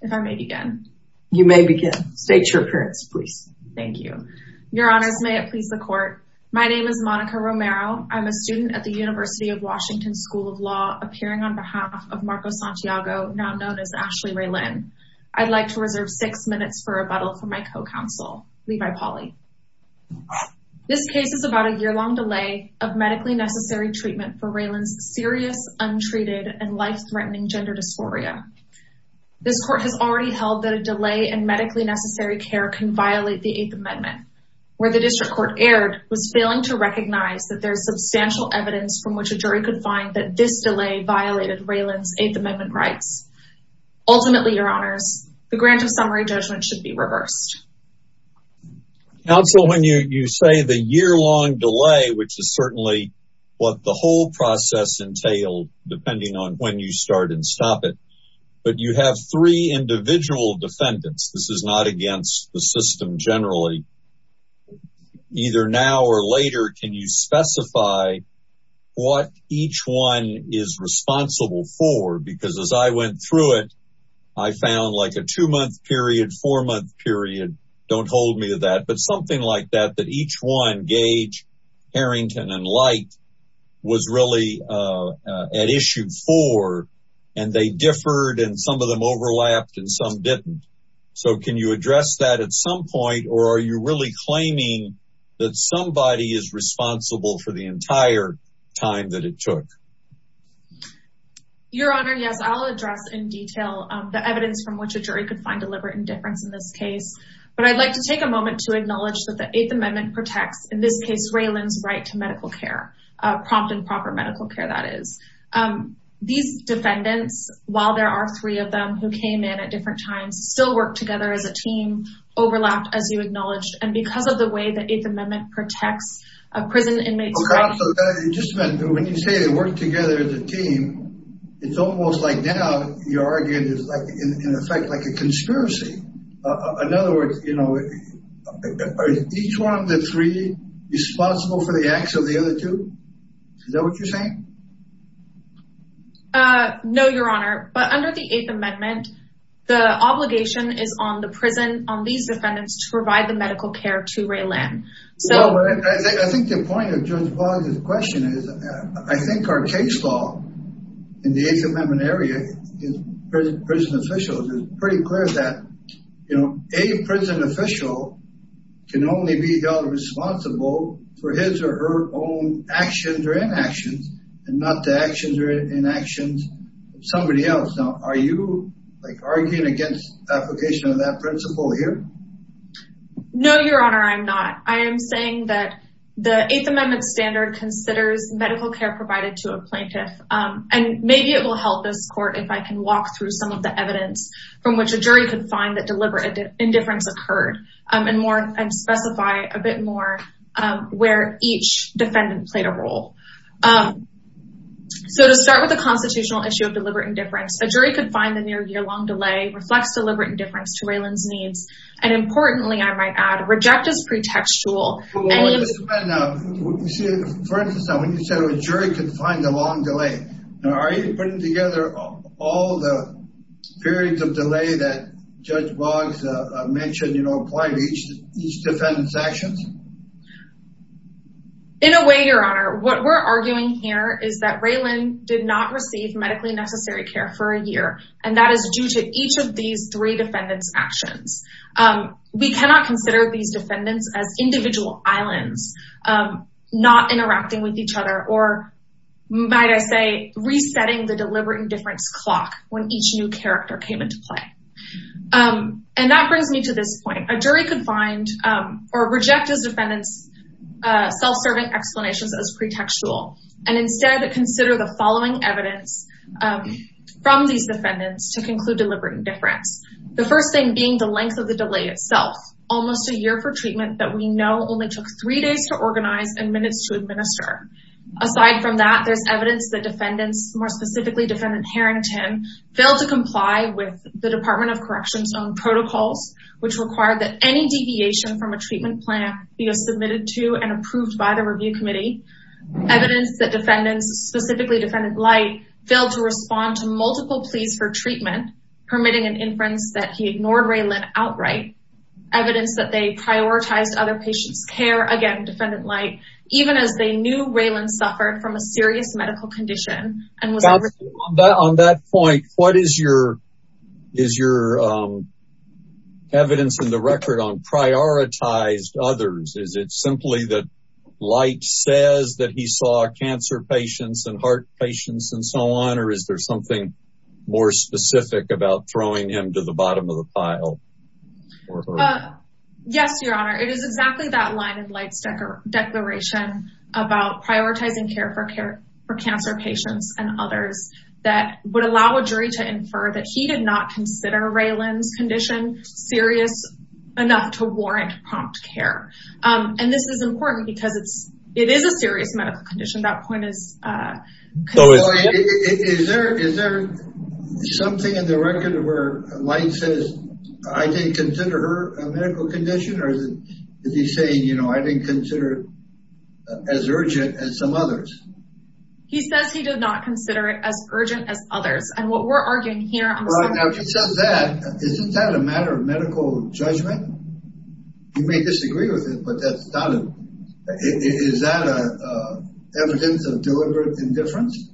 If I may begin. You may begin. State your appearance, please. Thank you. Your honors, may it please the court. My name is Monica Romero. I'm a student at the University of Washington School of Law, appearing on behalf of Marco Santiago, now known as Ashley Raelyn. I'd like to reserve six minutes for rebuttal from my co-counsel, Levi Pauly. This case is about a year-long delay of medically necessary treatment for Raelyn's serious, untreated, and life-threatening gender dysphoria. This court has already held that a delay in medically necessary care can violate the Eighth Amendment. Where the district court erred was failing to recognize that there is substantial evidence from which a jury could find that this delay violated Raelyn's Eighth Amendment rights. Ultimately, your honors, the grant of summary judgment should be reversed. Counsel, when you say the year-long delay, which is certainly what the whole process entailed, depending on when you start and stop it, but you have three individual defendants. This is not against the system generally. Either now or later, can you specify what each one is responsible for? Because as I went through it, I found like a two-month period, four-month period, don't hold me to that, but something like that, that each one, Gage, Harrington, and Light, was really at issue four, and they differed, and some of them overlapped, and some didn't. So can you address that at some point, or are you really claiming that somebody is responsible for the entire time that it took? Your honor, yes, I'll address in detail the evidence from which a jury could find deliberate indifference in this case, but I'd like to take a moment to acknowledge that the Eighth Amendment protects, in this case, Raelyn's right to medical care, prompt and proper medical care, that is. These defendants, while there are three of them who came in at different times, still work together as a team, overlapped, as you acknowledged, and because of the way the Eighth Amendment protects prison inmates... When you say they work together as a team, it's almost like now you're arguing, in effect, like a conspiracy. In other words, are each one of the three responsible for the acts of the other two? Is that what you're saying? No, your honor, but under the Eighth Amendment, the obligation is on the prison, on these defendants, to provide the medical care to Raelyn. I think the point of Judge Boggs' question is, I think our case law in the Eighth Amendment area is prison officials. It's pretty clear that a prison official can only be held responsible for his or her own actions or inactions, and not the actions or inactions of somebody else. Now, are you arguing against application of that principle here? No, your honor, I'm not. I am saying that the Eighth Amendment standard considers medical care provided to a plaintiff, and maybe it will help this court if I can walk through some of the evidence from which a jury could find that deliberate indifference occurred, and specify a bit more where each defendant played a role. To start with the constitutional issue of deliberate indifference, a jury could find the near year-long delay reflects deliberate indifference to Raelyn's needs, and importantly, I might add, reject is pretextual. For instance, when you said a jury could find the long delay, are you putting together all the periods of delay that Judge Boggs mentioned apply to each defendant's actions? In a way, your honor, what we're arguing here is that Raelyn did not receive medically necessary care for a year, and that is due to each of these three defendants' actions. We cannot consider these defendants as individual islands, not interacting with each other, or might I say, resetting the deliberate indifference clock when each new character came into play. And that brings me to this point. A jury could find, or reject this defendant's self-serving explanations as pretextual, and instead consider the following evidence from these defendants to conclude deliberate indifference. The first thing being the length of the delay itself. Almost a year for treatment that we know only took three days to organize and minutes to administer. Aside from that, there's evidence that defendants, more specifically defendant Harrington, failed to comply with the Department of Corrections' own protocols, which require that any deviation from a treatment plan be submitted to and approved by the review committee. Evidence that defendants, specifically defendant Light, failed to respond to multiple pleas for treatment, permitting an inference that he ignored Raelynn outright. Evidence that they prioritized other patients' care, again defendant Light, even as they knew Raelynn suffered from a serious medical condition. On that point, what is your evidence in the record on prioritized others? Is it simply that Light says that he saw cancer patients and heart patients and so on, or is there something more specific about throwing him to the bottom of the pile? Yes, Your Honor. It is exactly that line in Light's declaration about prioritizing care for cancer patients and others that would allow a jury to infer that he did not consider Raelynn's condition serious enough to warrant prompt care. And this is important because it is a serious medical condition. That point is consistent. Is there something in the record where Light says, I didn't consider her a medical condition, or is he saying, you know, I didn't consider it as urgent as some others? He says he did not consider it as urgent as others. And what we're arguing here… Now, if he says that, isn't that a matter of medical judgment? You may disagree with it, but that's valid. Is that evidence of deliberate indifference?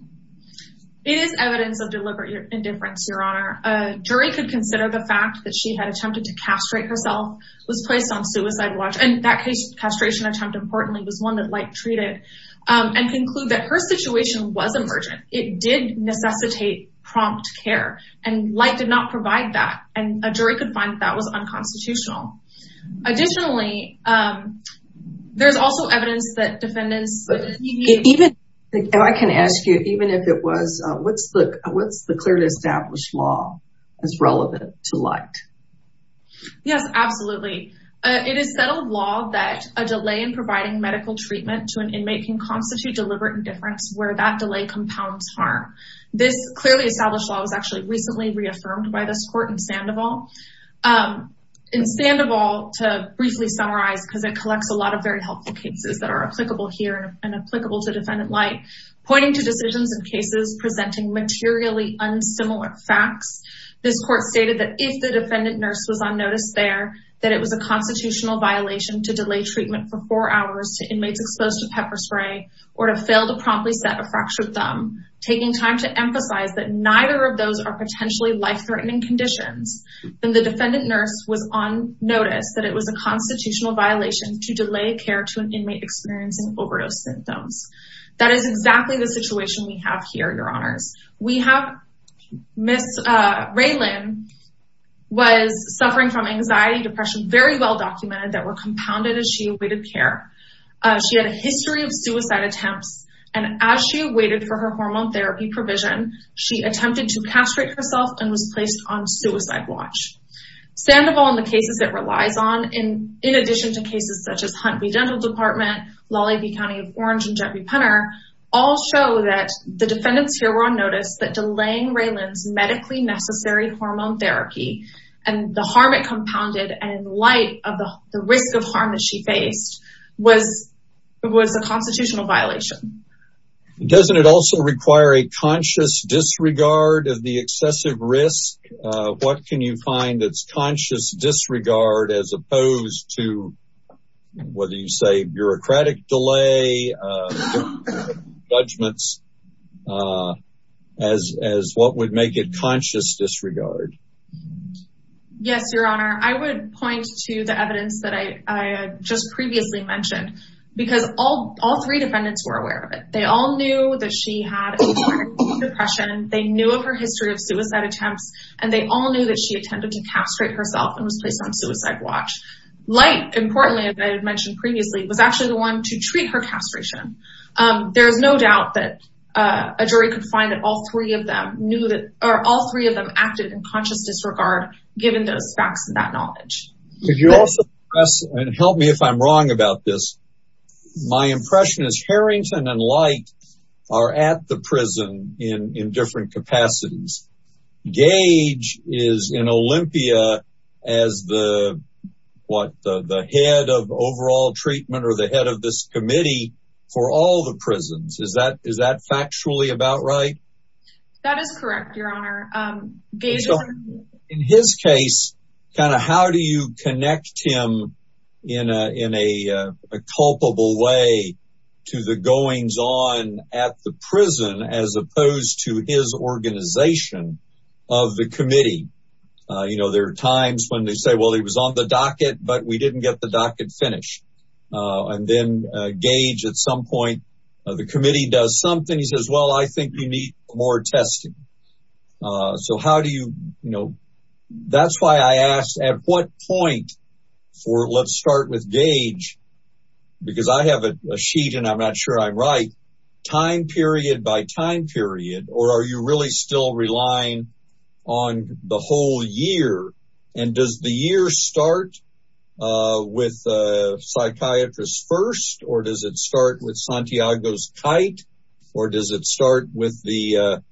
It is evidence of deliberate indifference, Your Honor. A jury could consider the fact that she had attempted to castrate herself, was placed on suicide watch, and that castration attempt, importantly, was one that Light treated, and conclude that her situation was emergent. It did necessitate prompt care, and Light did not provide that. And a jury could find that that was unconstitutional. Additionally, there's also evidence that defendants… If I can ask you, even if it was, what's the clearly established law as relevant to Light? Yes, absolutely. It is settled law that a delay in providing medical treatment to an inmate can constitute deliberate indifference where that delay compounds harm. This clearly established law was actually recently reaffirmed by this court in Sandoval. In Sandoval, to briefly summarize, because it collects a lot of very helpful cases that are applicable here and applicable to defendant Light, pointing to decisions and cases presenting materially unsimilar facts, this court stated that if the defendant nurse was on notice there, that it was a constitutional violation to delay treatment for four hours to inmates exposed to pepper spray, or to fail to promptly set a fractured thumb, taking time to emphasize that neither of those are potentially life-threatening conditions, then the defendant nurse was on notice that it was a constitutional violation to delay care to an inmate experiencing overdose symptoms. That is exactly the situation we have here, Your Honors. We have Ms. Raelyn was suffering from anxiety, depression, very well documented that were compounded as she awaited care. She had a history of suicide attempts, and as she waited for her hormone therapy provision, she attempted to castrate herself and was placed on suicide watch. Sandoval and the cases it relies on, in addition to cases such as Hunt v. Dental Department, Lawley v. County of Orange, and Jet v. Penner, all show that the defendants here were on notice that delaying Raelyn's medically necessary hormone therapy, and the harm it compounded in light of the risk of harm that she faced, was a constitutional violation. Doesn't it also require a conscious disregard of the excessive risk? What can you find that's conscious disregard as opposed to, whether you say bureaucratic delay, judgments, as what would make it conscious disregard? Yes, Your Honor. I would point to the evidence that I just previously mentioned, because all three defendants were aware of it. They all knew that she had anxiety, depression. They knew of her history of suicide attempts, and they all knew that she attempted to castrate herself and was placed on suicide watch. Light, importantly, as I had mentioned previously, was actually the one to treat her castration. There is no doubt that a jury could find that all three of them acted in that knowledge. Could you also help me if I'm wrong about this? My impression is Harrington and Light are at the prison in different capacities. Gage is in Olympia as the head of overall treatment or the head of this committee for all the prisons. Is that factually about right? That is correct, Your Honor. In his case, kind of how do you connect him in a culpable way to the goings on at the prison as opposed to his organization of the committee? You know, there are times when they say, well, he was on the docket, but we didn't get the docket finished. And then Gage, at some point, the committee does something. He says, well, I think you need more testing. So how do you, you know, that's why I asked at what point for let's start with Gage because I have a sheet and I'm not sure I'm right. Time period by time period or are you really still relying on the whole year and does the year start with a psychiatrist first or does it start with Santiago's kite? Or does it start with the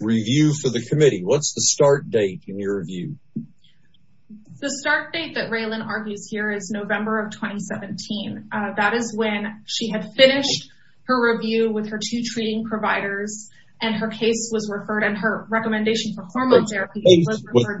review for the committee? What's the start date in your view? The start date that Raelynn argues here is November of 2017. That is when she had finished her review with her two treating providers and her case was referred and her recommendation for hormone therapy.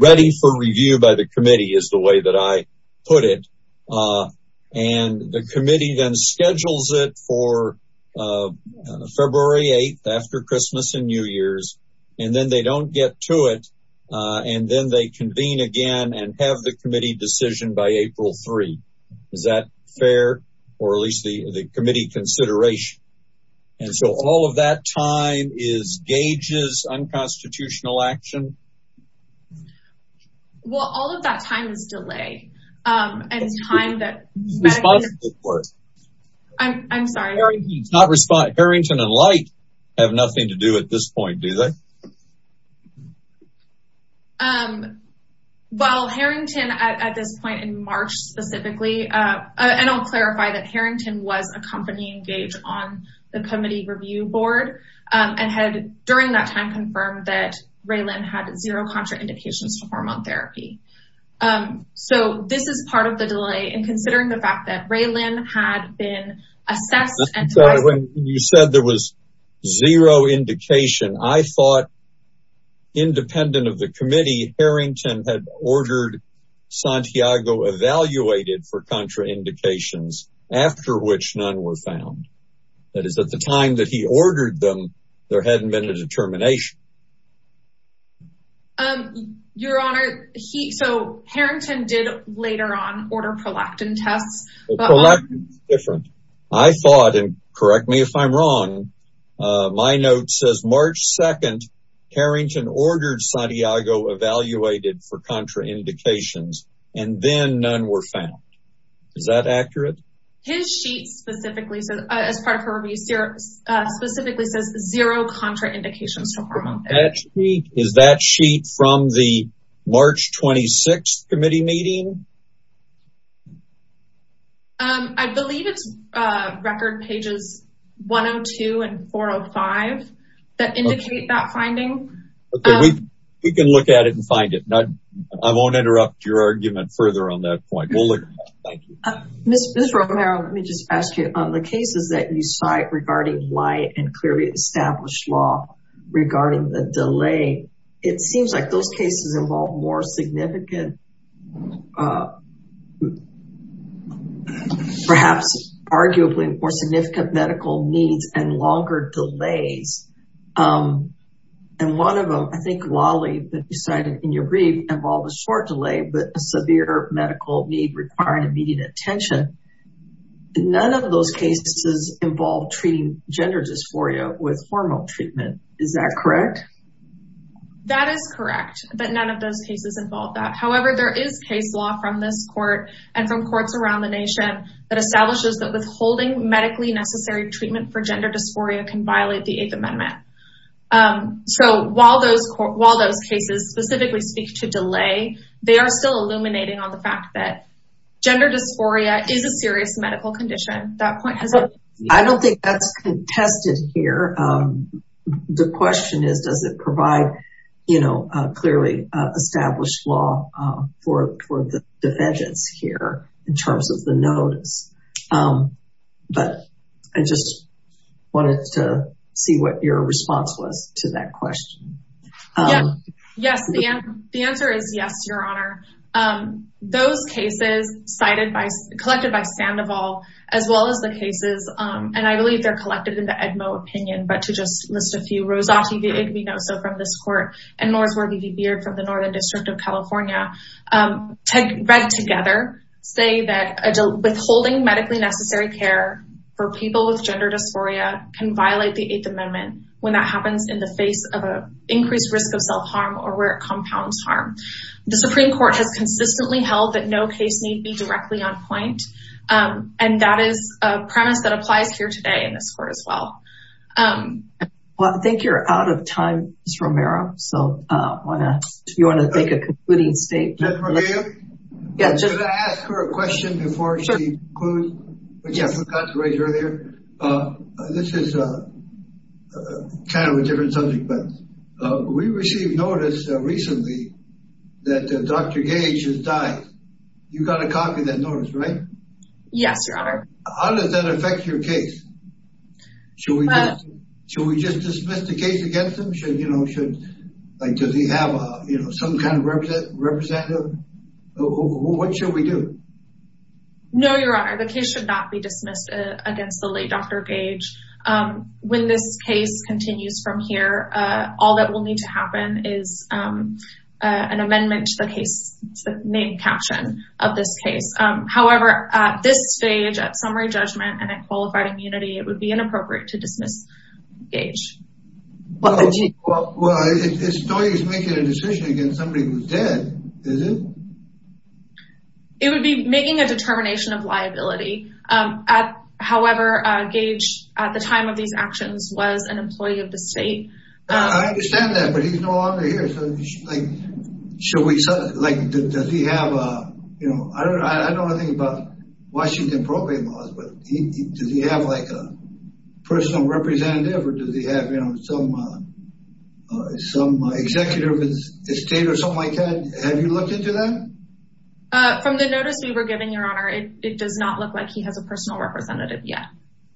Ready for review by the committee is the way that I put it. And the committee then schedules it for February 8th after Christmas and New Year's, and then they don't get to it. And then they convene again and have the committee decision by April 3rd. Is that fair? Or at least the committee consideration. And so all of that time is Gage's unconstitutional action. Well, all of that time is delayed. And it's time that. I'm sorry. Harrington and Light have nothing to do at this point, do they? Well, Harrington at this point in March specifically, and I'll clarify that Harrington was a company engaged on the committee review board and had during that time confirmed that Raelynn had zero contraindications for hormone therapy. So this is part of the delay in considering the fact that Raelynn had been assessed. You said there was zero indication. I thought independent of the committee, Harrington had ordered Santiago evaluated for contraindications, after which none were found. That is at the time that he ordered them, there hadn't been a determination. Your Honor. So Harrington did later on order prolactin tests. I thought and correct me if I'm wrong. My note says March 2nd, Harrington ordered Santiago evaluated for contraindications, and then none were found. Is that accurate? His sheet specifically says, as part of her review, specifically says zero contraindications for hormone therapy. Is that sheet from the March 26th committee meeting? I believe it's record pages 102 and 405 that indicate that finding. We can look at it and find it. I won't interrupt your argument further on that point. Ms. Romero, let me just ask you on the cases that you cite regarding why and clearly established law regarding the delay. It seems like those cases involve more significant, perhaps arguably more significant medical needs and longer delays. And one of them, I think Lolly that you cited in your brief involved a short delay, but a severe medical need requiring immediate attention. None of those cases involve treating gender dysphoria with hormone treatment. Is that correct? That is correct. But none of those cases involve that. However, there is case law from this court and from courts around the nation that establishes that withholding medically necessary treatment for gender dysphoria can violate the eighth amendment. So while those court, while those cases specifically speak to delay, they are still illuminating on the fact that gender dysphoria is a serious medical condition. That point has. I don't think that's contested here. The question is, does it provide, you know, clearly established law for, for the defense here in terms of the notice. But I just wanted to see what your response was to that question. Yes. The answer is yes, your honor. Those cases cited by, collected by Sandoval, as well as the cases. And I believe they're collected in the Edmo opinion, but to just list a few Rosati V. Iguinosa from this court and Norsworthy V. Beard from the Northern district of California, read together say that withholding medically necessary care for people with gender dysphoria can violate the eighth amendment when that happens in the increased risk of self-harm or where it compounds harm. The Supreme court has consistently held that no case need be directly on point. And that is a premise that applies here today in this court as well. Well, I think you're out of time, Mr. Romero. So you want to make a concluding statement? Yeah. Just ask her a question before she. Which I forgot to raise earlier. This is kind of a different subject, but we received notice recently that Dr. Gage has died. You got a copy of that notice, right? Yes, Your Honor. How does that affect your case? Should we just dismiss the case against him? Should, you know, should like, does he have a, you know, some kind of represent representative? What should we do? No, Your Honor, the case should not be dismissed against the late Dr. Gage. When this case continues from here, all that will need to happen is an amendment to the case, to the name caption of this case. However, at this stage at summary judgment and a qualified immunity, it would be inappropriate to dismiss Gage. Well, his story is making a decision against somebody who's dead. Is it? It would be making a determination of liability. However, Gage at the time of these actions was an employee of the state. I understand that, but he's no longer here. So like, should we, like, does he have a, you know, I don't, I don't know anything about Washington propane laws, but does he have like a personal representative or does he have, you know, some, some executive estate or something like that? Have you looked into that? From the notice we were given, Your Honor, it does not look like he has a personal representative yet.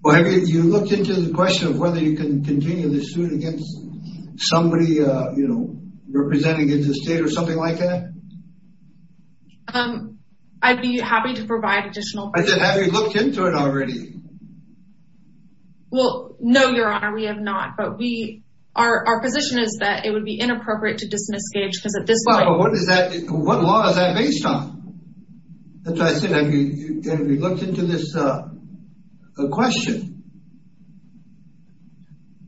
Well, have you looked into the question of whether you can continue the suit against somebody, you know, representing the state or something like that? Um, I'd be happy to provide additional. I said, have you looked into it already? Well, no, Your Honor, we have not, but we are, our position is that it would be inappropriate to dismiss Gage because at this level, what is that? What law is that based on? That's what I said. Have you, have you looked into this, uh, a question?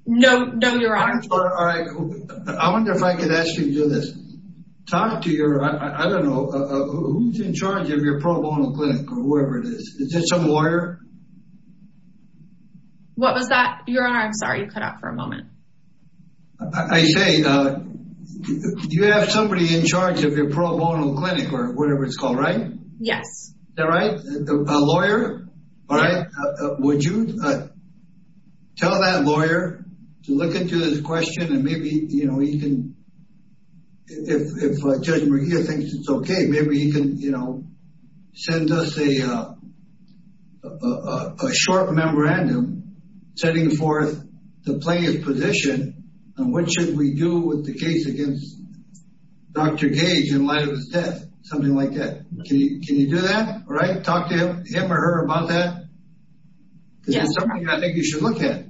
No, no, Your Honor. All right. I wonder if I could ask you to do this. Talk to your, I don't know, uh, who's in charge of your pro bono clinic or whoever it is. Is there some lawyer? What was that? Your Honor, I'm sorry. You cut out for a moment. I say, uh, do you have somebody in charge of your pro bono clinic or whatever it's called, right? Yes. All right. A lawyer. All right. Uh, would you, uh, tell that lawyer to look into this question and maybe, you know, he can, if, if, if Judge McGeer thinks it's okay, maybe he can, you know, send us a, uh, a, a short memorandum setting forth the plaintiff's position. And what should we do with the case against Dr. Gage in light of his death? Something like that. Can you, can you do that? All right. Talk to him or her about that. Yes. I think you should look at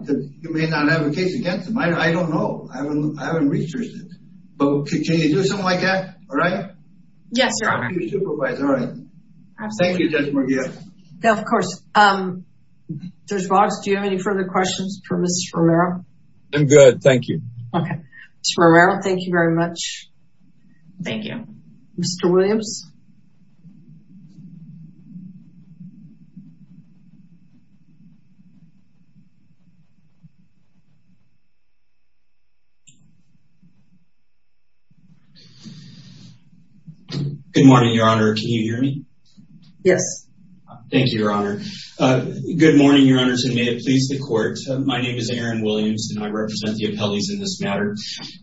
that. You may not have a case against him. I don't know. I haven't, I haven't researched it, but can you do something like that? All right. Yes, Your Honor. Thank you, Judge McGeer. Yeah, of course. Um, Judge Boggs, do you have any further questions for Mrs. Romero? I'm good. Thank you. Okay. Mr. Romero, thank you very much. Thank you. Mr. Williams. Good morning, Your Honor. Can you hear me? Yes. Thank you, Your Honor. Uh, good morning, Your Honors, Gage. Mr. Gage, you may be seated. Thank you. Thank you. Thank you. Thank you. Thank you. Thank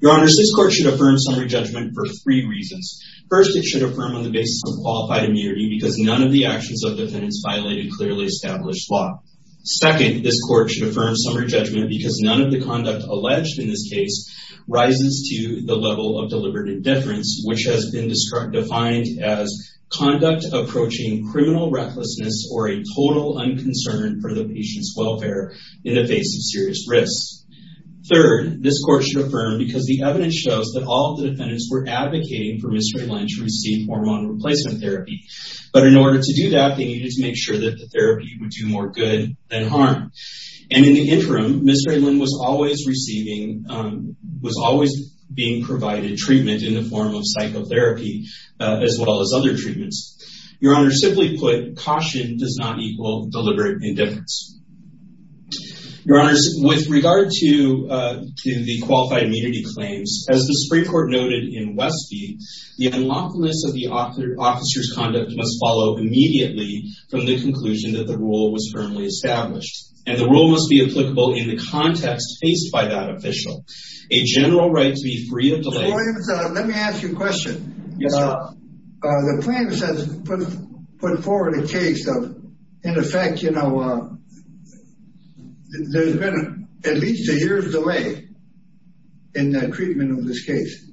you. This court should affirm summary judgment for three reasons. First, it should affirm on the basis of qualified immunity because none of the actions of defendants violate a clearly established law. Second, this court should affirm summary judgment because none of the conduct alleged in this case rises to the level of deliberate indifference which has been described, defined as conduct approaching criminal recklessness or a total unconcern for the patient's welfare in the face of serious risk. Third, this court should affirm because the evidence shows that all of the defendants were advocating for Ms. Fray-Lynn to receive hormone replacement therapy. But in order to do that, they needed to make sure that the therapy would do more good than harm. And in the interim, Ms. Fray-Lynn was always receiving, was always being provided treatment in the form of psychotherapy as well as other treatments. Your Honor, simply put, caution does not equal deliberate indifference. Your Honor, with regard to the qualified immunity claims, as the Supreme Court noted in Westby, the unlawfulness of the officer's conduct must follow immediately from the conclusion that the rule was firmly established. And the rule must be applicable in the context faced by that official. A general right to be free of delay. Let me ask you a question. The plaintiffs have put forward a case of, in effect, you know, there's been at least a year's delay in the treatment of this case.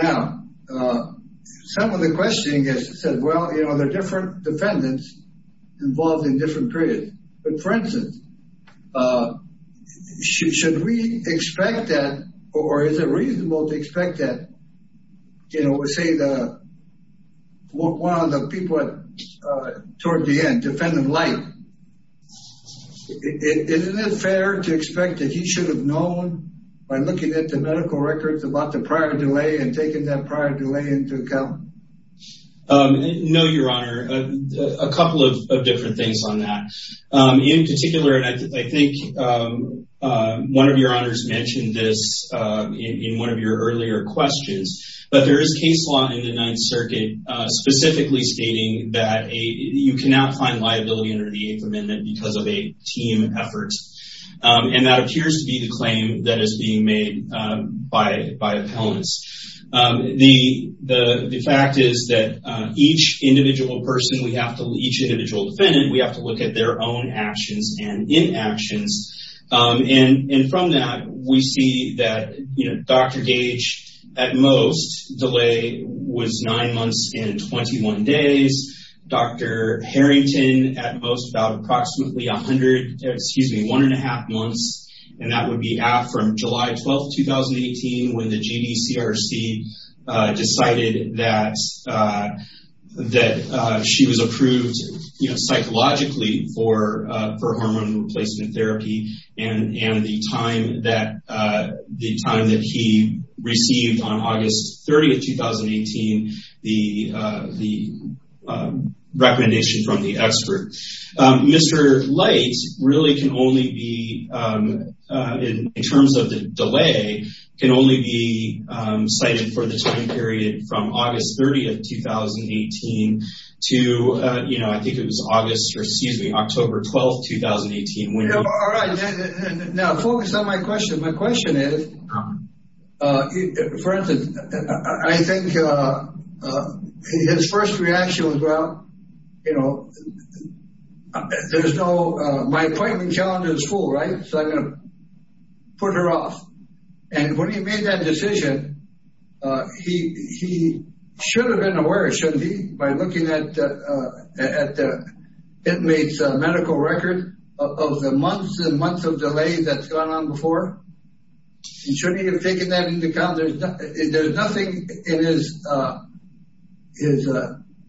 Now, some of the questioning is, well, you know, there are different defendants involved in different periods. But for instance, should we expect that, or is it reasonable to expect that, you know, say, one of the people towards the end, defendant Light, isn't it fair to expect that he should have known by looking at the medical records about the prior delay and taking that prior delay into account? No, Your Honor. A couple of different things on that. In particular, and I think one of your honors mentioned this in one of your earlier questions, but there is case law in the Ninth Circuit specifically stating that you cannot find liability under the Eighth Amendment because of a team effort. And that appears to be the claim that is being made by opponents. The fact is that each individual person, each individual defendant, we have to look at their own actions and inactions. And from that, we see that, you know, Dr. Gage, at most, delay was nine months and 21 days. Dr. Harrington, at most, about approximately 100, excuse me, one and a half months. And that would be from July 12, 2018, when the GDCRC decided that she was approved psychologically for hormone replacement therapy. And the time that he received on August 30, 2018, the recommendation from the expert. Mr. Light really can only be, in terms of the delay, can only be cited for the time period from August 30, 2018 to, you know, I think it was August, or excuse me, October 12, 2018. All right. Now, focus on my question. My question is, for instance, I think his first reaction was, well, you know, there's no, my appointment calendar is full, right? So I'm going to put her off. And when he made that decision, he should have been aware, shouldn't he? By looking at the inmate's medical record of the months and months of delay that's gone on before, he shouldn't have taken that into account. There's nothing in his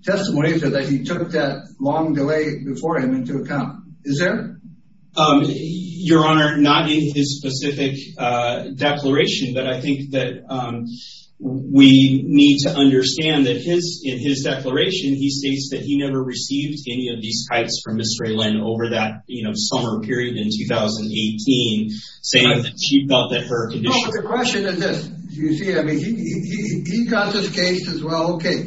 testimony that he took that long delay before him into account. Is there? Your Honor, not in his specific declaration, but I think that we need to understand that his, in his declaration, he states that he never received any of these types from Miss Raelynn over that, you know, summer period in 2018, saying that she felt that her condition. The question is this, you see, I mean, he got this case as well. Okay.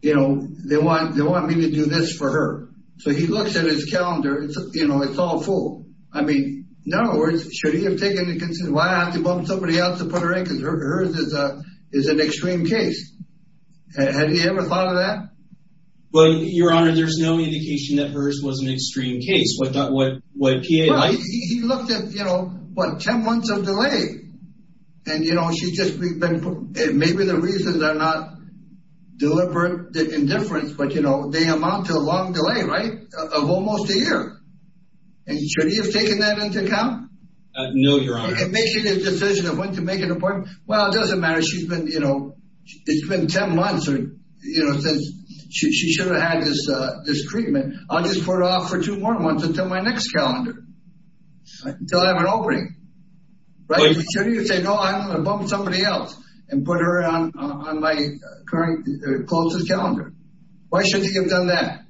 You know, they want, they want me to do this for her. So he looks at his calendar. It's, you know, it's all full. I mean, no, should he have taken it? Why I have to bump somebody else to put her in? Cause hers is a, is an extreme case. Had he ever thought of that? Well, Your Honor, there's no indication that hers was an extreme case. What, what, he looked at, you know, what, 10 months of delay. And, you know, she just, we've been, maybe the reasons are not deliberate indifference, but, you know, they amount to a long delay, right? Of almost a year. And should he have taken that into account? Uh, no, Your Honor. He can make a decision of when to make an appointment. Well, it doesn't matter. She's been, you know, it's been 10 months or, you know, since she should have had this, uh, this treatment. I'll just put it off for two more months until my next calendar. Until I have an opening. Right? Should he have said, no, I'm going to bump somebody else and put her on, on my current, closest calendar. Why shouldn't he have done that?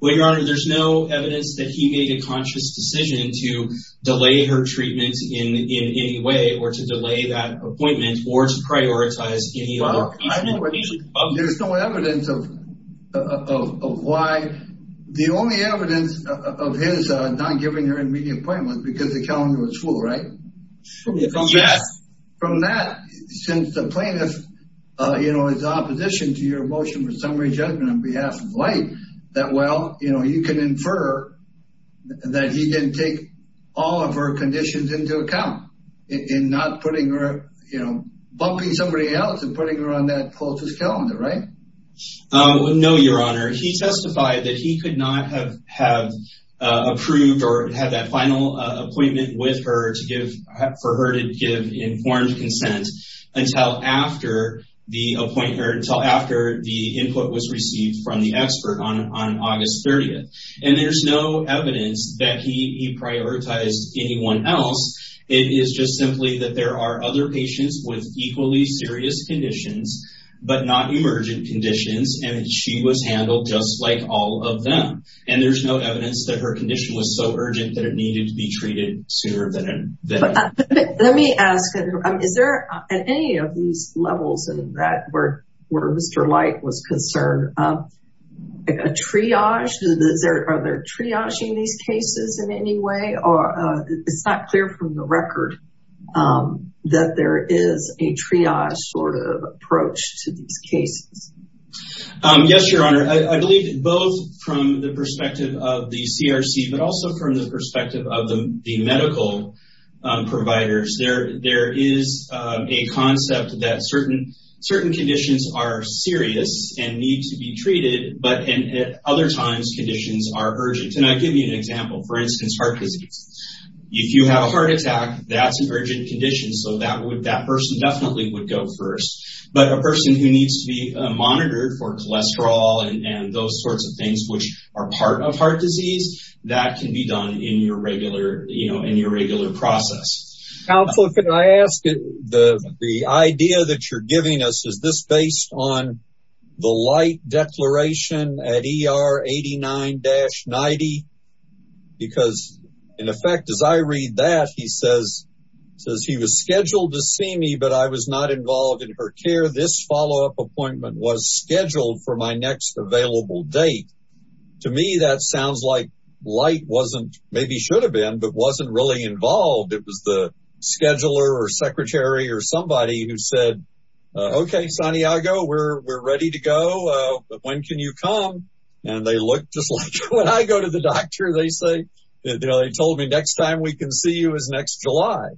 Well, Your Honor, there's no evidence that he made a conscious decision to delay her treatment in, in any way, or to delay that appointment or to prioritize any other. There's no evidence of, of, of why the only evidence of his, uh, not giving her an immediate appointment was because the calendar was full, right? Yes. From that, since the plaintiff, is opposition to your motion for summary judgment on behalf of light that, well, you know, he's going to have to make a decision. You can infer that he didn't take all of her conditions into account in, in not putting her, you know, bumping somebody else and putting her on that closest calendar. Right? Um, no, Your Honor, he testified that he could not have, have, uh, approved or had that final appointment with her to give for her to give informed consent until after the appointment, or until after the input was received from the expert on, on August 30th. And there's no evidence that he, he prioritized anyone else. It is just simply that there are other patients with equally serious conditions, but not emergent conditions. And she was handled just like all of them. And there's no evidence that her condition was so urgent that it needed to be treated sooner than, than that. Let me ask, is there at any of these levels of that where, where Mr. Light was concerned, um, a triage? Is there, are there triaging these cases in any way, or, uh, it's not clear from the record, um, that there is a triage sort of approach to these cases. Um, yes, Your Honor, I believe both from the perspective of the CRC, but also from the perspective of the, the medical, um, providers. There, there is, um, a concept that certain, certain conditions are serious and need to be treated, but other times conditions are urgent. And I give you an example, for instance, heart disease. If you have a heart attack, that's an urgent condition. So that would, that person definitely would go first, but a person who needs to be monitored for cholesterol and, and those sorts of things, which are part of heart disease that can be done in your regular, you know, in your regular process. Counselor, could I ask the, the idea that you're giving us, is this based on the light declaration at ER 89 dash 90? Because in effect, as I read that, he says, says he was scheduled to see me, but I was not involved in her care. This follow-up appointment was scheduled for my next available date. To me, that sounds like light wasn't maybe should have been, but wasn't really involved. It was the scheduler or secretary or somebody who said, okay, Santiago, we're, we're ready to go. When can you come? And they look just like when I go to the doctor, they say, they told me next time we can see you is next July.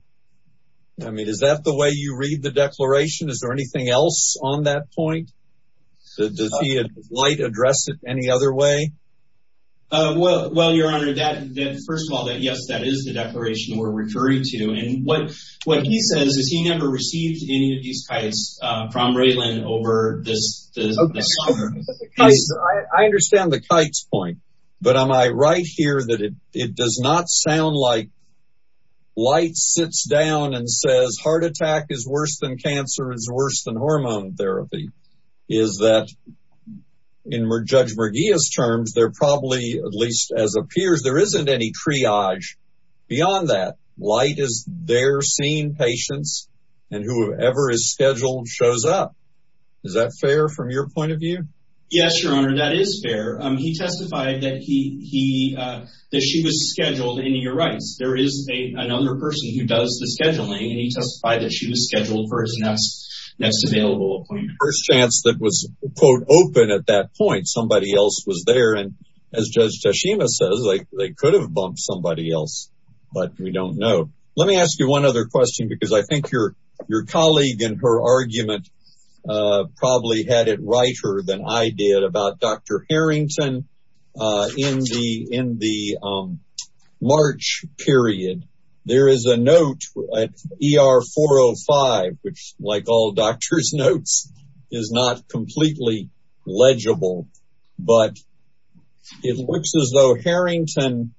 I mean, is that the way you read the declaration? Is there anything else on that point? Does he light address it any other way? Well, well, your honor, that first of all, that yes, that is the declaration we're referring to. And what, what he says is he never received any of these kites from Raylan over this. I understand the kites point, but am I right here that it, it does not sound like light sits down and says, heart attack is worse than cancer is worse than hormone therapy. Is that in more judge McGee is terms. They're probably at least as appears, there isn't any triage beyond that light is there seen patients and whoever is scheduled shows up. Is that fair from your point of view? Yes, your honor. That is fair. He testified that he, he, that she was scheduled into your rights. There is a, another person who does the scheduling and he testified that she was scheduled for his next, next available appointment. First chance that was quote open at that point, somebody else was there. And as judge Tashima says, like they could have bumped somebody else, but we don't know. Let me ask you one other question, because I think your, your colleague and her argument probably had it right. Her than I did about Dr. Harrington in the, in the March period, there is a note at ER four Oh five, which like all doctors notes is not completely legible, but it looks as though Harrington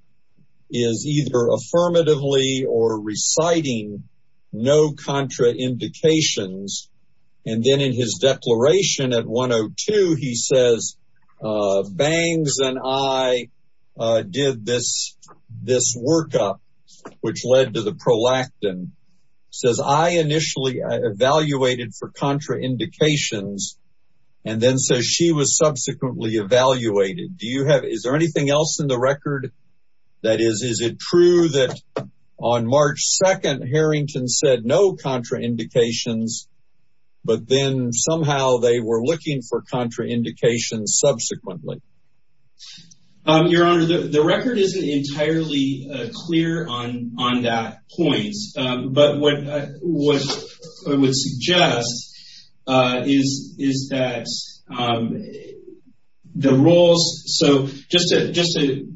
is either affirmatively or reciting no contraindications. And then in his declaration at one Oh two, he says bangs. And I did this, this workup, which led to the prolactin says, I initially evaluated for contraindications. And then so she was subsequently evaluated. Do you have, is there anything else in the record that is, is it true that on March 2nd, Harrington said no contraindications, but then somehow they were looking for contraindications subsequently. Your honor, the record isn't entirely clear on, on that point. But what I would suggest is, is that the roles. So just to, just to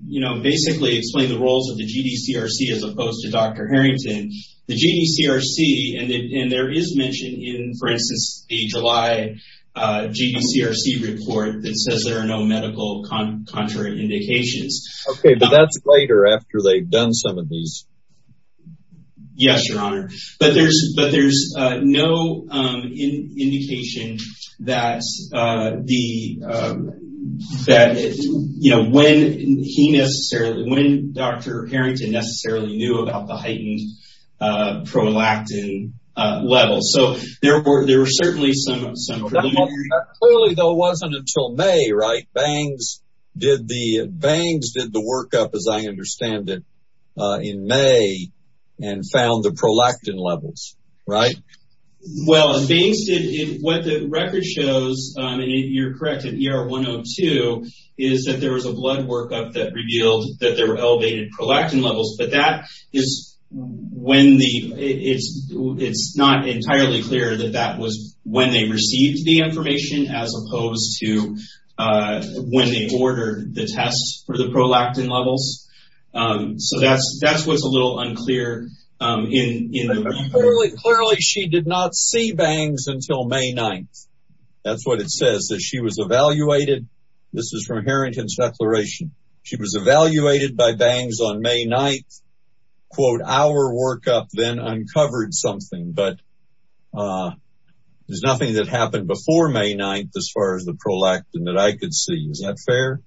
basically explain the roles of the GDCRC as opposed to Dr. Harrington, the GDCRC and there is mentioned in, for instance, the July GDCRC report that says there are no medical contraindications. Okay. But that's later after they've done some of these. Yes, your honor. But there's, but there's no indication that the, that, you know, when he necessarily, when Dr. Harrington necessarily knew about the heightened prolactin level. So there were, there were certainly some, some clearly though it wasn't until May, right? Bangs did the bangs, did the workup as I understand it in May and found the prolactin levels, right? Well, what the record shows, and you're correct at ER 102, is that there was a blood workup that revealed that there were elevated prolactin levels, but that is when the it's, it's not entirely clear that that was when they received the information as opposed to, when they ordered the tests for the prolactin levels. So that's, that's, what's a little unclear. Clearly, clearly she did not see bangs until May 9th. That's what it says that she was evaluated. This is from Harrington's declaration. She was evaluated by bangs on May 9th, quote, our workup then uncovered something, but there's nothing that happened before May 9th. As far as the prolactin that I could see, is that fair?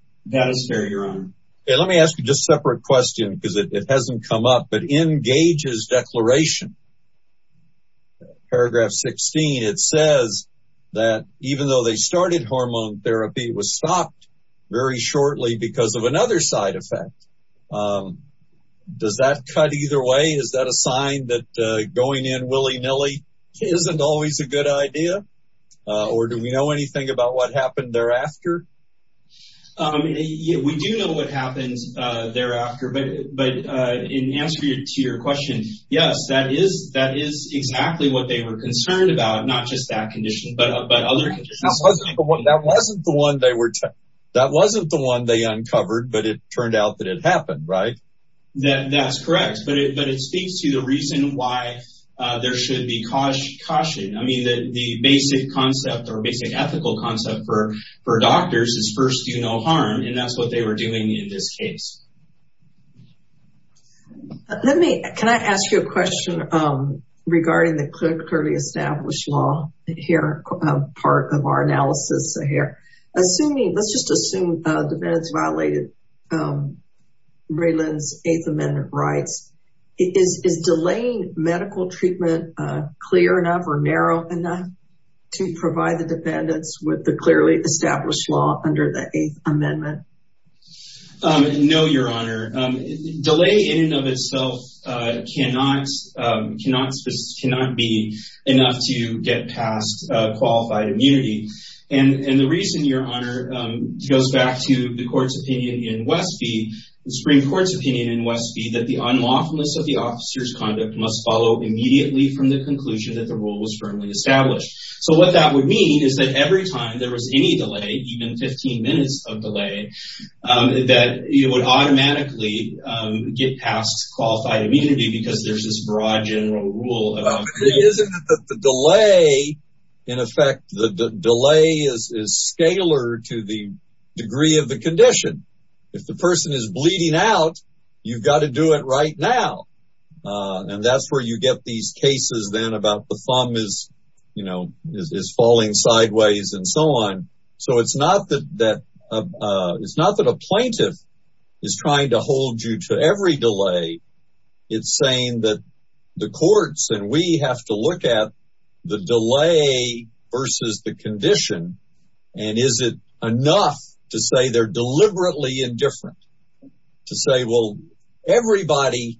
Let me ask you just separate question because it hasn't come up, but engages declaration paragraph 16. It says that even though they started hormone therapy, it was stopped very shortly because of another side effect. Does that cut either way? Is that a sign that going in willy nilly isn't always a good idea? Or do we know anything about what happened thereafter? We do know what happens thereafter, but, but in answer to your question, yes, that is, that is exactly what they were concerned about. Not just that condition, but other conditions. That wasn't the one they were, that wasn't the one they uncovered, but it turned out that it happened, right? That's correct. But it, but it speaks to the reason why there should be cause caution. I mean, the basic concept or basic ethical concept for, for doctors is first, do no harm. And that's what they were doing in this case. Let me, can I ask you a question regarding the clinically established law here? Part of our analysis here. Assuming, let's just assume defendants violated Ray Lynn's eighth amendment rights. Is, is delaying medical treatment clear enough or narrow enough? To provide the defendants with the clearly established law under the eighth amendment. No, your honor delay in and of itself cannot, cannot, cannot be enough to get past qualified immunity. And, and the reason your honor goes back to the court's opinion in Westby, the Supreme court's opinion in Westby that the unlawfulness of the officer's conduct must follow immediately from the conclusion that the rule was firmly established. So what that would mean is that every time there was any delay, even 15 minutes of delay, that you would automatically get past qualified immunity because there's this broad general rule. The delay in effect, the delay is, is scalar to the degree of the condition. If the person is bleeding out, you've got to do it right now. And that's where you get these cases then about the thumb is, you know, is falling sideways and so on. So it's not that that it's not that a plaintiff is trying to hold you to every delay. It's saying that the courts and we have to look at the delay versus the condition. And is it enough to say they're deliberately indifferent to say, well, everybody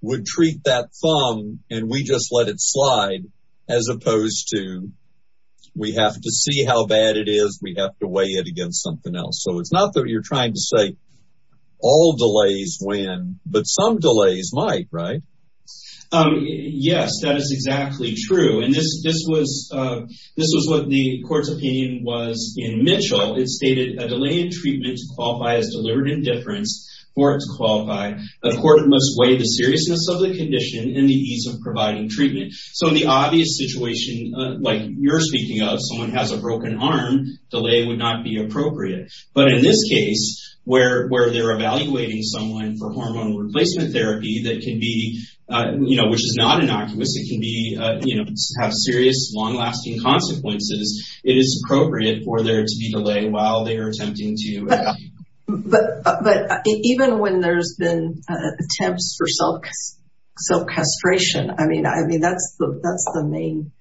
would treat that thumb and we just let it slide as opposed to we have to see how bad it is. We have to weigh it against something else. So it's not that you're trying to say all delays when, but some delays might, right? Yes, that is exactly true. And this, this was this was what the court's opinion was in Mitchell. It stated a delay in treatment to qualify as deliberate indifference for it to qualify. A court must weigh the seriousness of the condition and the ease of providing treatment. So in the obvious situation, like you're speaking of someone has a broken arm delay would not be appropriate, but in this case where, where they're evaluating someone for hormonal replacement therapy, that can be, you know, which is not innocuous. It can be, you know, have serious long lasting consequences. It is appropriate for there to be delay while they are attempting to. But, but even when there's been attempts for self, self castration, I mean, I mean, that's the, that's the main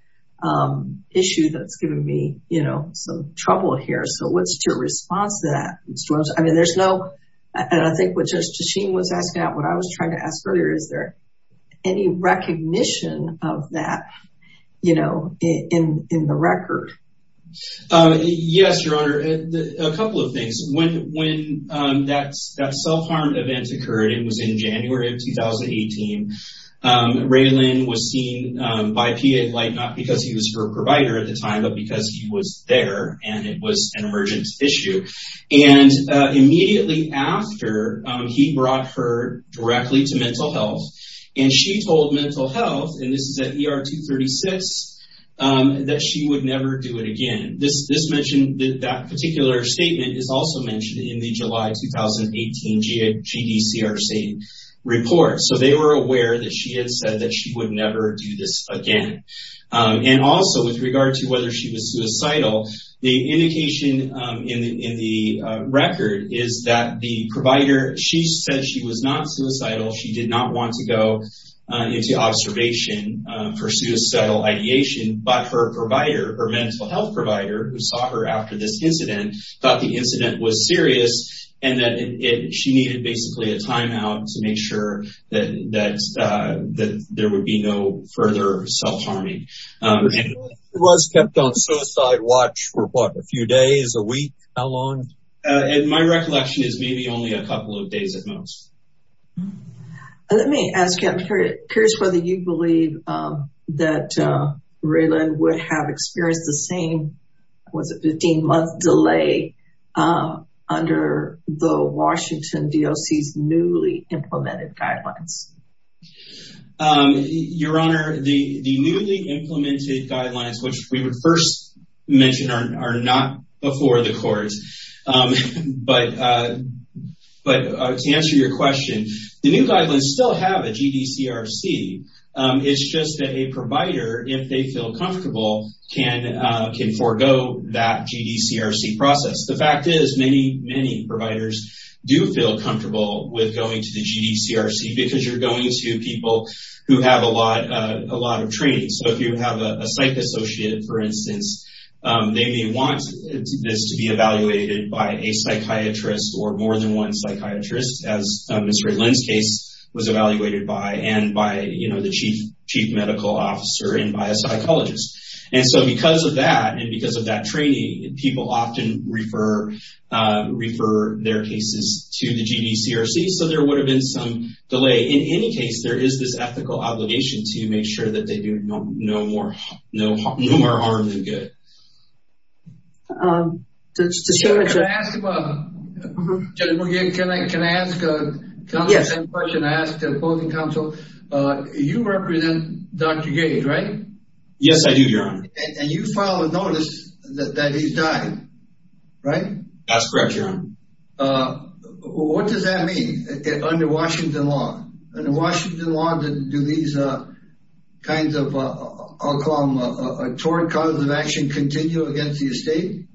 issue that's given me, you know, some trouble here. So what's your response to that? I mean, there's no, and I think what Justine was asking, what I was trying to ask earlier, is there any recognition of that, you know, in, in the record? Yes, Your Honor. A couple of things. When, when that, that self-harm event occurred, it was in January of 2018. Ray Lynn was seen by PA Light, not because he was her provider at the time, but because he was there and it was an emergent issue. And immediately after he brought her directly to mental health and she told mental health, and this is at ER 236, that she would never do it again. This, this mentioned that particular statement is also mentioned in the July 2018 GDCRC report. So they were aware that she had said that she would never do this again. And also with regard to whether she was suicidal, the indication in the, in the record is that the provider, she said she was not suicidal. She did not want to go into observation for suicidal ideation, but her provider, her mental health provider who saw her after this incident thought the incident was serious and that she needed basically a timeout to make sure that, that, that there would be no further self-harming. Was kept on suicide watch for what, a few days, a week, how long? My recollection is maybe only a couple of days at most. Let me ask you, I'm curious whether you believe that Raelynn would have experienced the same, was it 15 months delay under the Washington DOC's newly implemented guidelines? Your Honor, the newly implemented guidelines, which we would first mention are not before the courts. But, but to answer your question, the new guidelines still have a GDCRC. It's just that a provider, if they feel comfortable can, can forego that GDCRC process. The fact is many, many providers do feel comfortable with going to the GDCRC because you're going to people who have a lot, a lot of training. So if you have a psych associate, for instance, they may want this to be evaluated by a psychiatrist or more than one psychiatrist, as Ms. Raelynn's case was evaluated by and by, you know, the chief medical officer and by a psychologist. And so because of that, and because of that training, people often refer, refer their cases to the GDCRC. So there would have been some delay. In any case, there is this ethical obligation to make sure that they do no more, no more harm than good. Judge Mugabe, can I, can I ask a question? I asked the opposing counsel, you represent Dr. Gage, right? Yes, I do, Your Honor. And you filed a notice that he's died, right? That's correct, Your Honor. What does that mean under Washington law? Under Washington law, do these kinds of, I'll call them, torrent causes of action continue against the estate?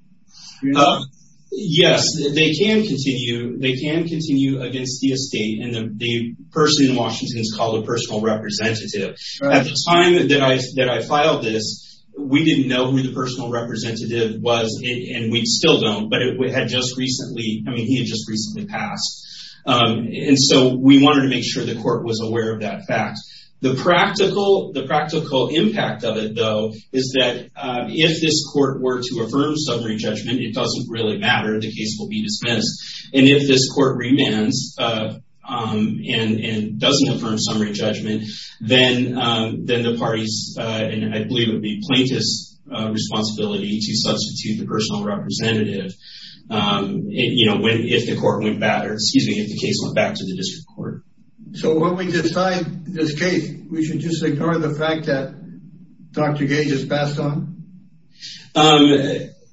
Yes, they can continue, they can continue against the estate. And the person in Washington is called a personal representative. At the time that I, that I filed this, we didn't know who the personal representative was, and we still don't. But it had just recently, I mean, he had just recently passed. And so we wanted to make sure the court was aware of that fact. The practical, the practical impact of it, though, is that if this court were to affirm summary judgment, it doesn't really matter. The case will be dismissed. And if this court remains, and doesn't affirm summary judgment, then, then the parties, and I believe it would be plaintiff's responsibility to substitute the personal representative. You know, if the court went back, or excuse me, if the case went back to the district court. So when we decide this case, we should just ignore the fact that Dr. Gage has passed on?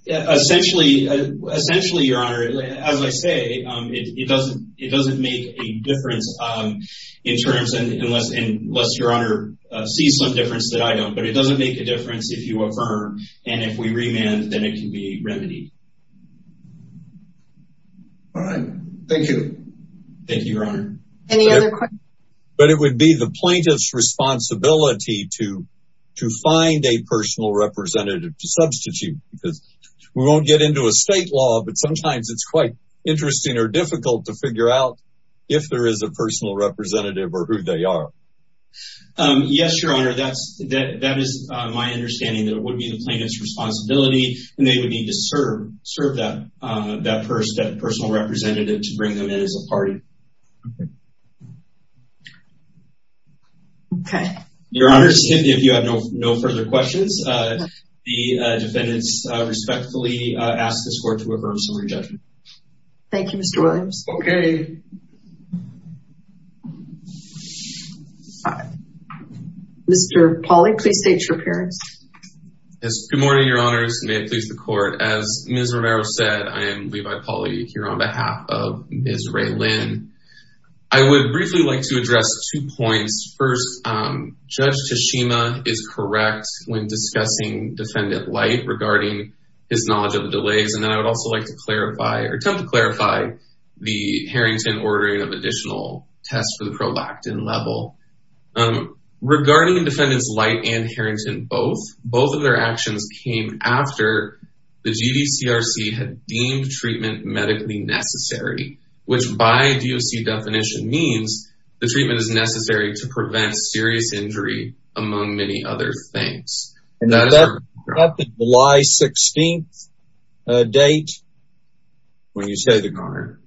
Essentially, essentially, your honor, as I say, it doesn't, it doesn't make a difference in terms, unless your honor sees some difference that I don't. But it doesn't make a difference if you affirm. And if we remand, then it can be remedied. All right. Thank you. Thank you, your honor. Any other questions? But it would be the plaintiff's responsibility to, to find a personal representative to substitute because we won't get into a state law, but sometimes it's quite interesting or difficult to figure out if there is a personal representative or who they are. Yes, your honor. That's that. That is my understanding that it would be the plaintiff's responsibility. And they would need to serve, serve that, that person, that personal representative to bring them in as a party. Okay. Okay. Your honor, if you have no, no further questions, the defendants respectfully ask this court to affirm summary judgment. Thank you, Mr. Williams. Okay. Mr. Pauly, please state your appearance. Good morning, your honors. May it please the court. As Ms. Romero said, I am Levi Pauly here on behalf of Ms. Rae Lynn. I would briefly like to address two points. First, Judge Tashima is correct when discussing Defendant Light regarding his knowledge of the delays. And then I would also like to clarify or attempt to clarify the Harrington ordering of additional tests for the probactin level. Regarding Defendants Light and Harrington, both, both of their actions came after the GDCRC had deemed treatment medically necessary, which by GDC definition means the treatment is necessary to prevent serious injury, among many other things. And that is correct. Was that the July 16th date when you say, your honor,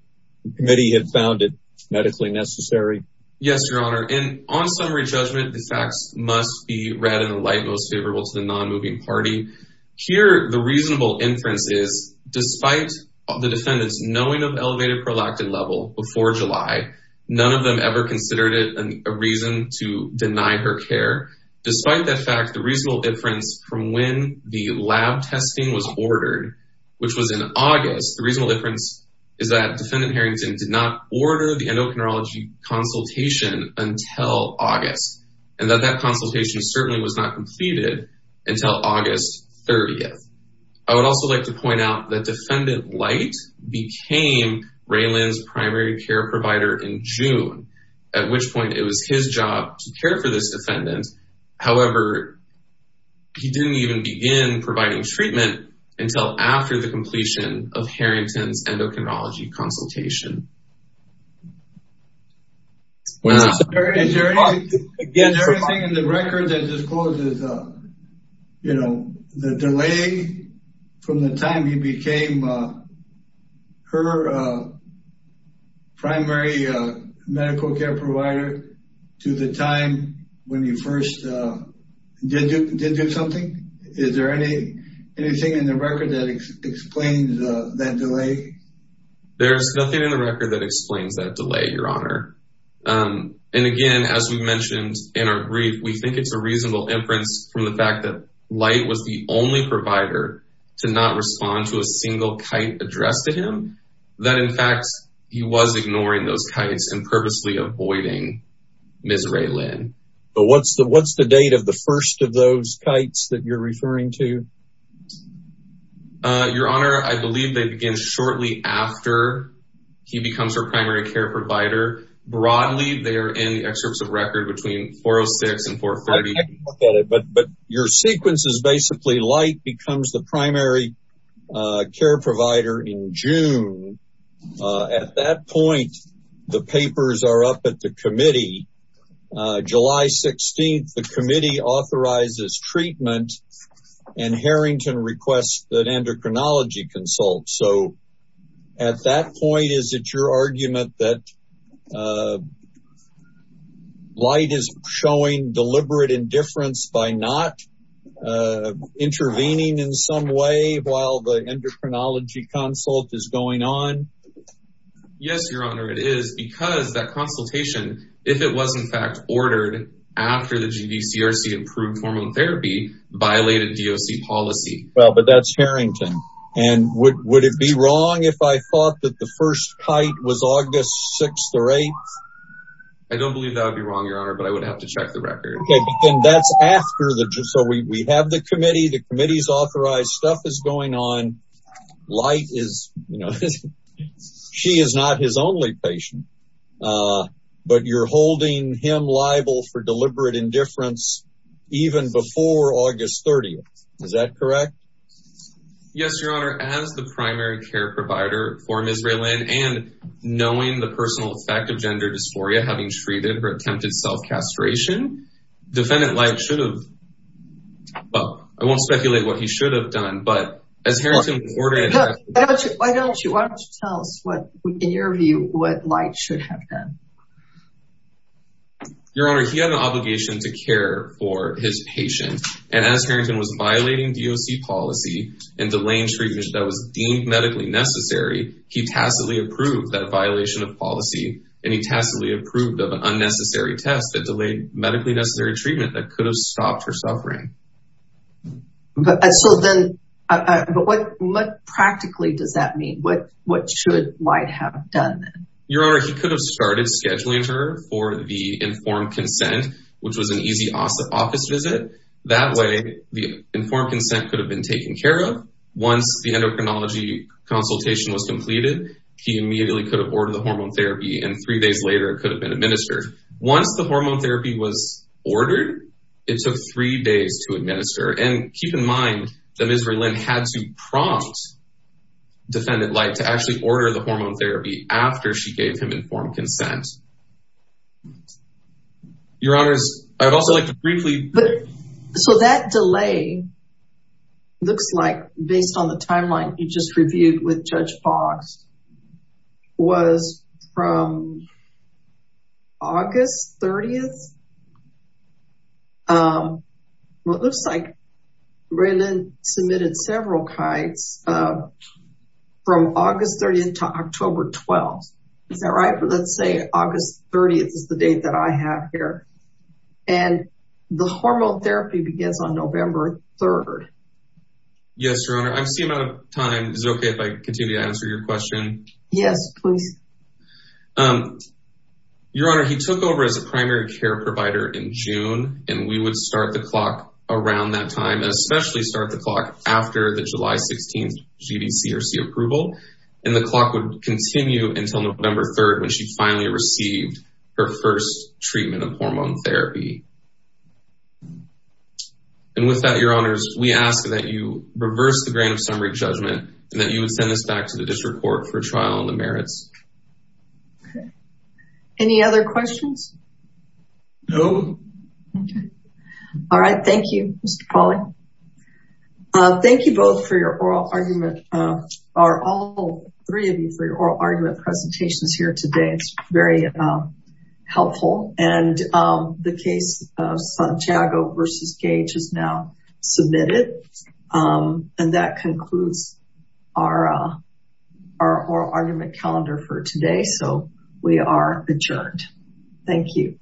the committee had found it medically necessary? Yes, your honor. And on summary judgment, the facts must be read in the light most favorable to the non-moving party. Here, the reasonable inference is despite the defendants knowing of elevated prolactin level before July, none of them ever considered it a reason to deny her care. Despite that fact, the reasonable difference from when the lab testing was ordered, which was in August, the reasonable difference is that Defendant Harrington did not order the endocrinology consultation until August. And that that consultation certainly was not completed until August 30th. I would also like to point out that Defendant Light became Ray Lynn's primary care provider in June, at which point it was his job to care for this defendant. However, he didn't even begin providing treatment until after the completion of Harrington's endocrinology consultation. Is there anything in the record that discloses, you know, the delay from the time he became her primary medical care provider to the time when you first did do something? Is there anything in the record that explains that delay? There's nothing in the record that explains that delay, Your Honor. And again, as we mentioned in our brief, we think it's a reasonable inference from the fact that Light was the only provider to not respond to a single kite addressed to him, that in fact, he was ignoring those kites and purposely avoiding Ms. Ray Lynn. But what's the, what's the date of the first of those kites that you're referring to? I believe they begin shortly after he becomes her primary care provider. Broadly, they are in the excerpts of record between 4.06 and 4.30. But your sequence is basically Light becomes the primary care provider in June. At that point, the papers are up at the committee. July 16th, the committee authorizes treatment and Harrington requests that endocrinology consult. So at that point, is it your argument that Light is showing deliberate indifference by not intervening in some way while the endocrinology consult is going on? Yes, Your Honor. It is because that consultation, if it was in fact ordered after the GDCRC approved hormone therapy, violated DOC policy. Well, but that's Harrington. And would it be wrong if I thought that the first kite was August 6th or 8th? I don't believe that would be wrong, Your Honor, but I would have to check the record. And that's after the, so we have the committee, the committee's authorized stuff is going on. Light is, you know, she is not his only patient, but you're holding him liable for deliberate indifference, even before August 30th. Is that correct? Yes, Your Honor. As the primary care provider for Ms. Raelyn and knowing the personal effect of gender dysphoria, having treated her attempted self castration, defendant Light should have, well, I won't speculate what he should have done, but as Harrington ordered. Why don't you, why don't you tell us what, in your view, what Light should have done? Your Honor, he had an obligation to care for his patient. And as Harrington was violating DOC policy and delaying treatment that was deemed medically necessary, he tacitly approved that violation of policy. And he tacitly approved of an unnecessary test that delayed medically necessary treatment that could have stopped her suffering. But, so then, but what, what practically does that mean? What, what should Light have done? Your Honor, he could have started scheduling her for the informed consent, which was an easy office visit. That way, the informed consent could have been taken care of. Once the endocrinology consultation was completed, he immediately could have ordered the hormone therapy. And three days later, it could have been administered. Once the hormone therapy was ordered, it took three days to administer. And keep in mind, that Ms. Verlin had to prompt defendant Light to actually order the hormone therapy after she gave him informed consent. Your Honor, I'd also like to briefly... But, so that delay, looks like, based on the timeline you just reviewed with Judge Fox, was from August 30th? Um, well, it looks like Brandon submitted several kinds, uh, from August 30th to October 12th. Is that right? Let's say August 30th is the date that I have here. And the hormone therapy begins on November 3rd. Yes, Your Honor. I'm seeing out of time. Is it okay if I continue to answer your question? Yes, please. Um, Your Honor, he took over as a primary care provider in June, and we would start the clock around that time, and especially start the clock after the July 16th GDCRC approval. And the clock would continue until November 3rd, when she finally received her first treatment of hormone therapy. And with that, Your Honors, we ask that you reverse the grain of summary judgment, and that you would send this back to the district court for trial on the merits. Okay. Any other questions? No. Okay. All right, thank you, Mr. Pauly. Thank you both for your oral argument, or all three of you for your oral argument presentations here today. It's very, uh, helpful. And, um, the case of Santiago versus Gage is now submitted. Um, and that concludes our, uh, our oral argument calendar for today. So we are adjourned. Thank you.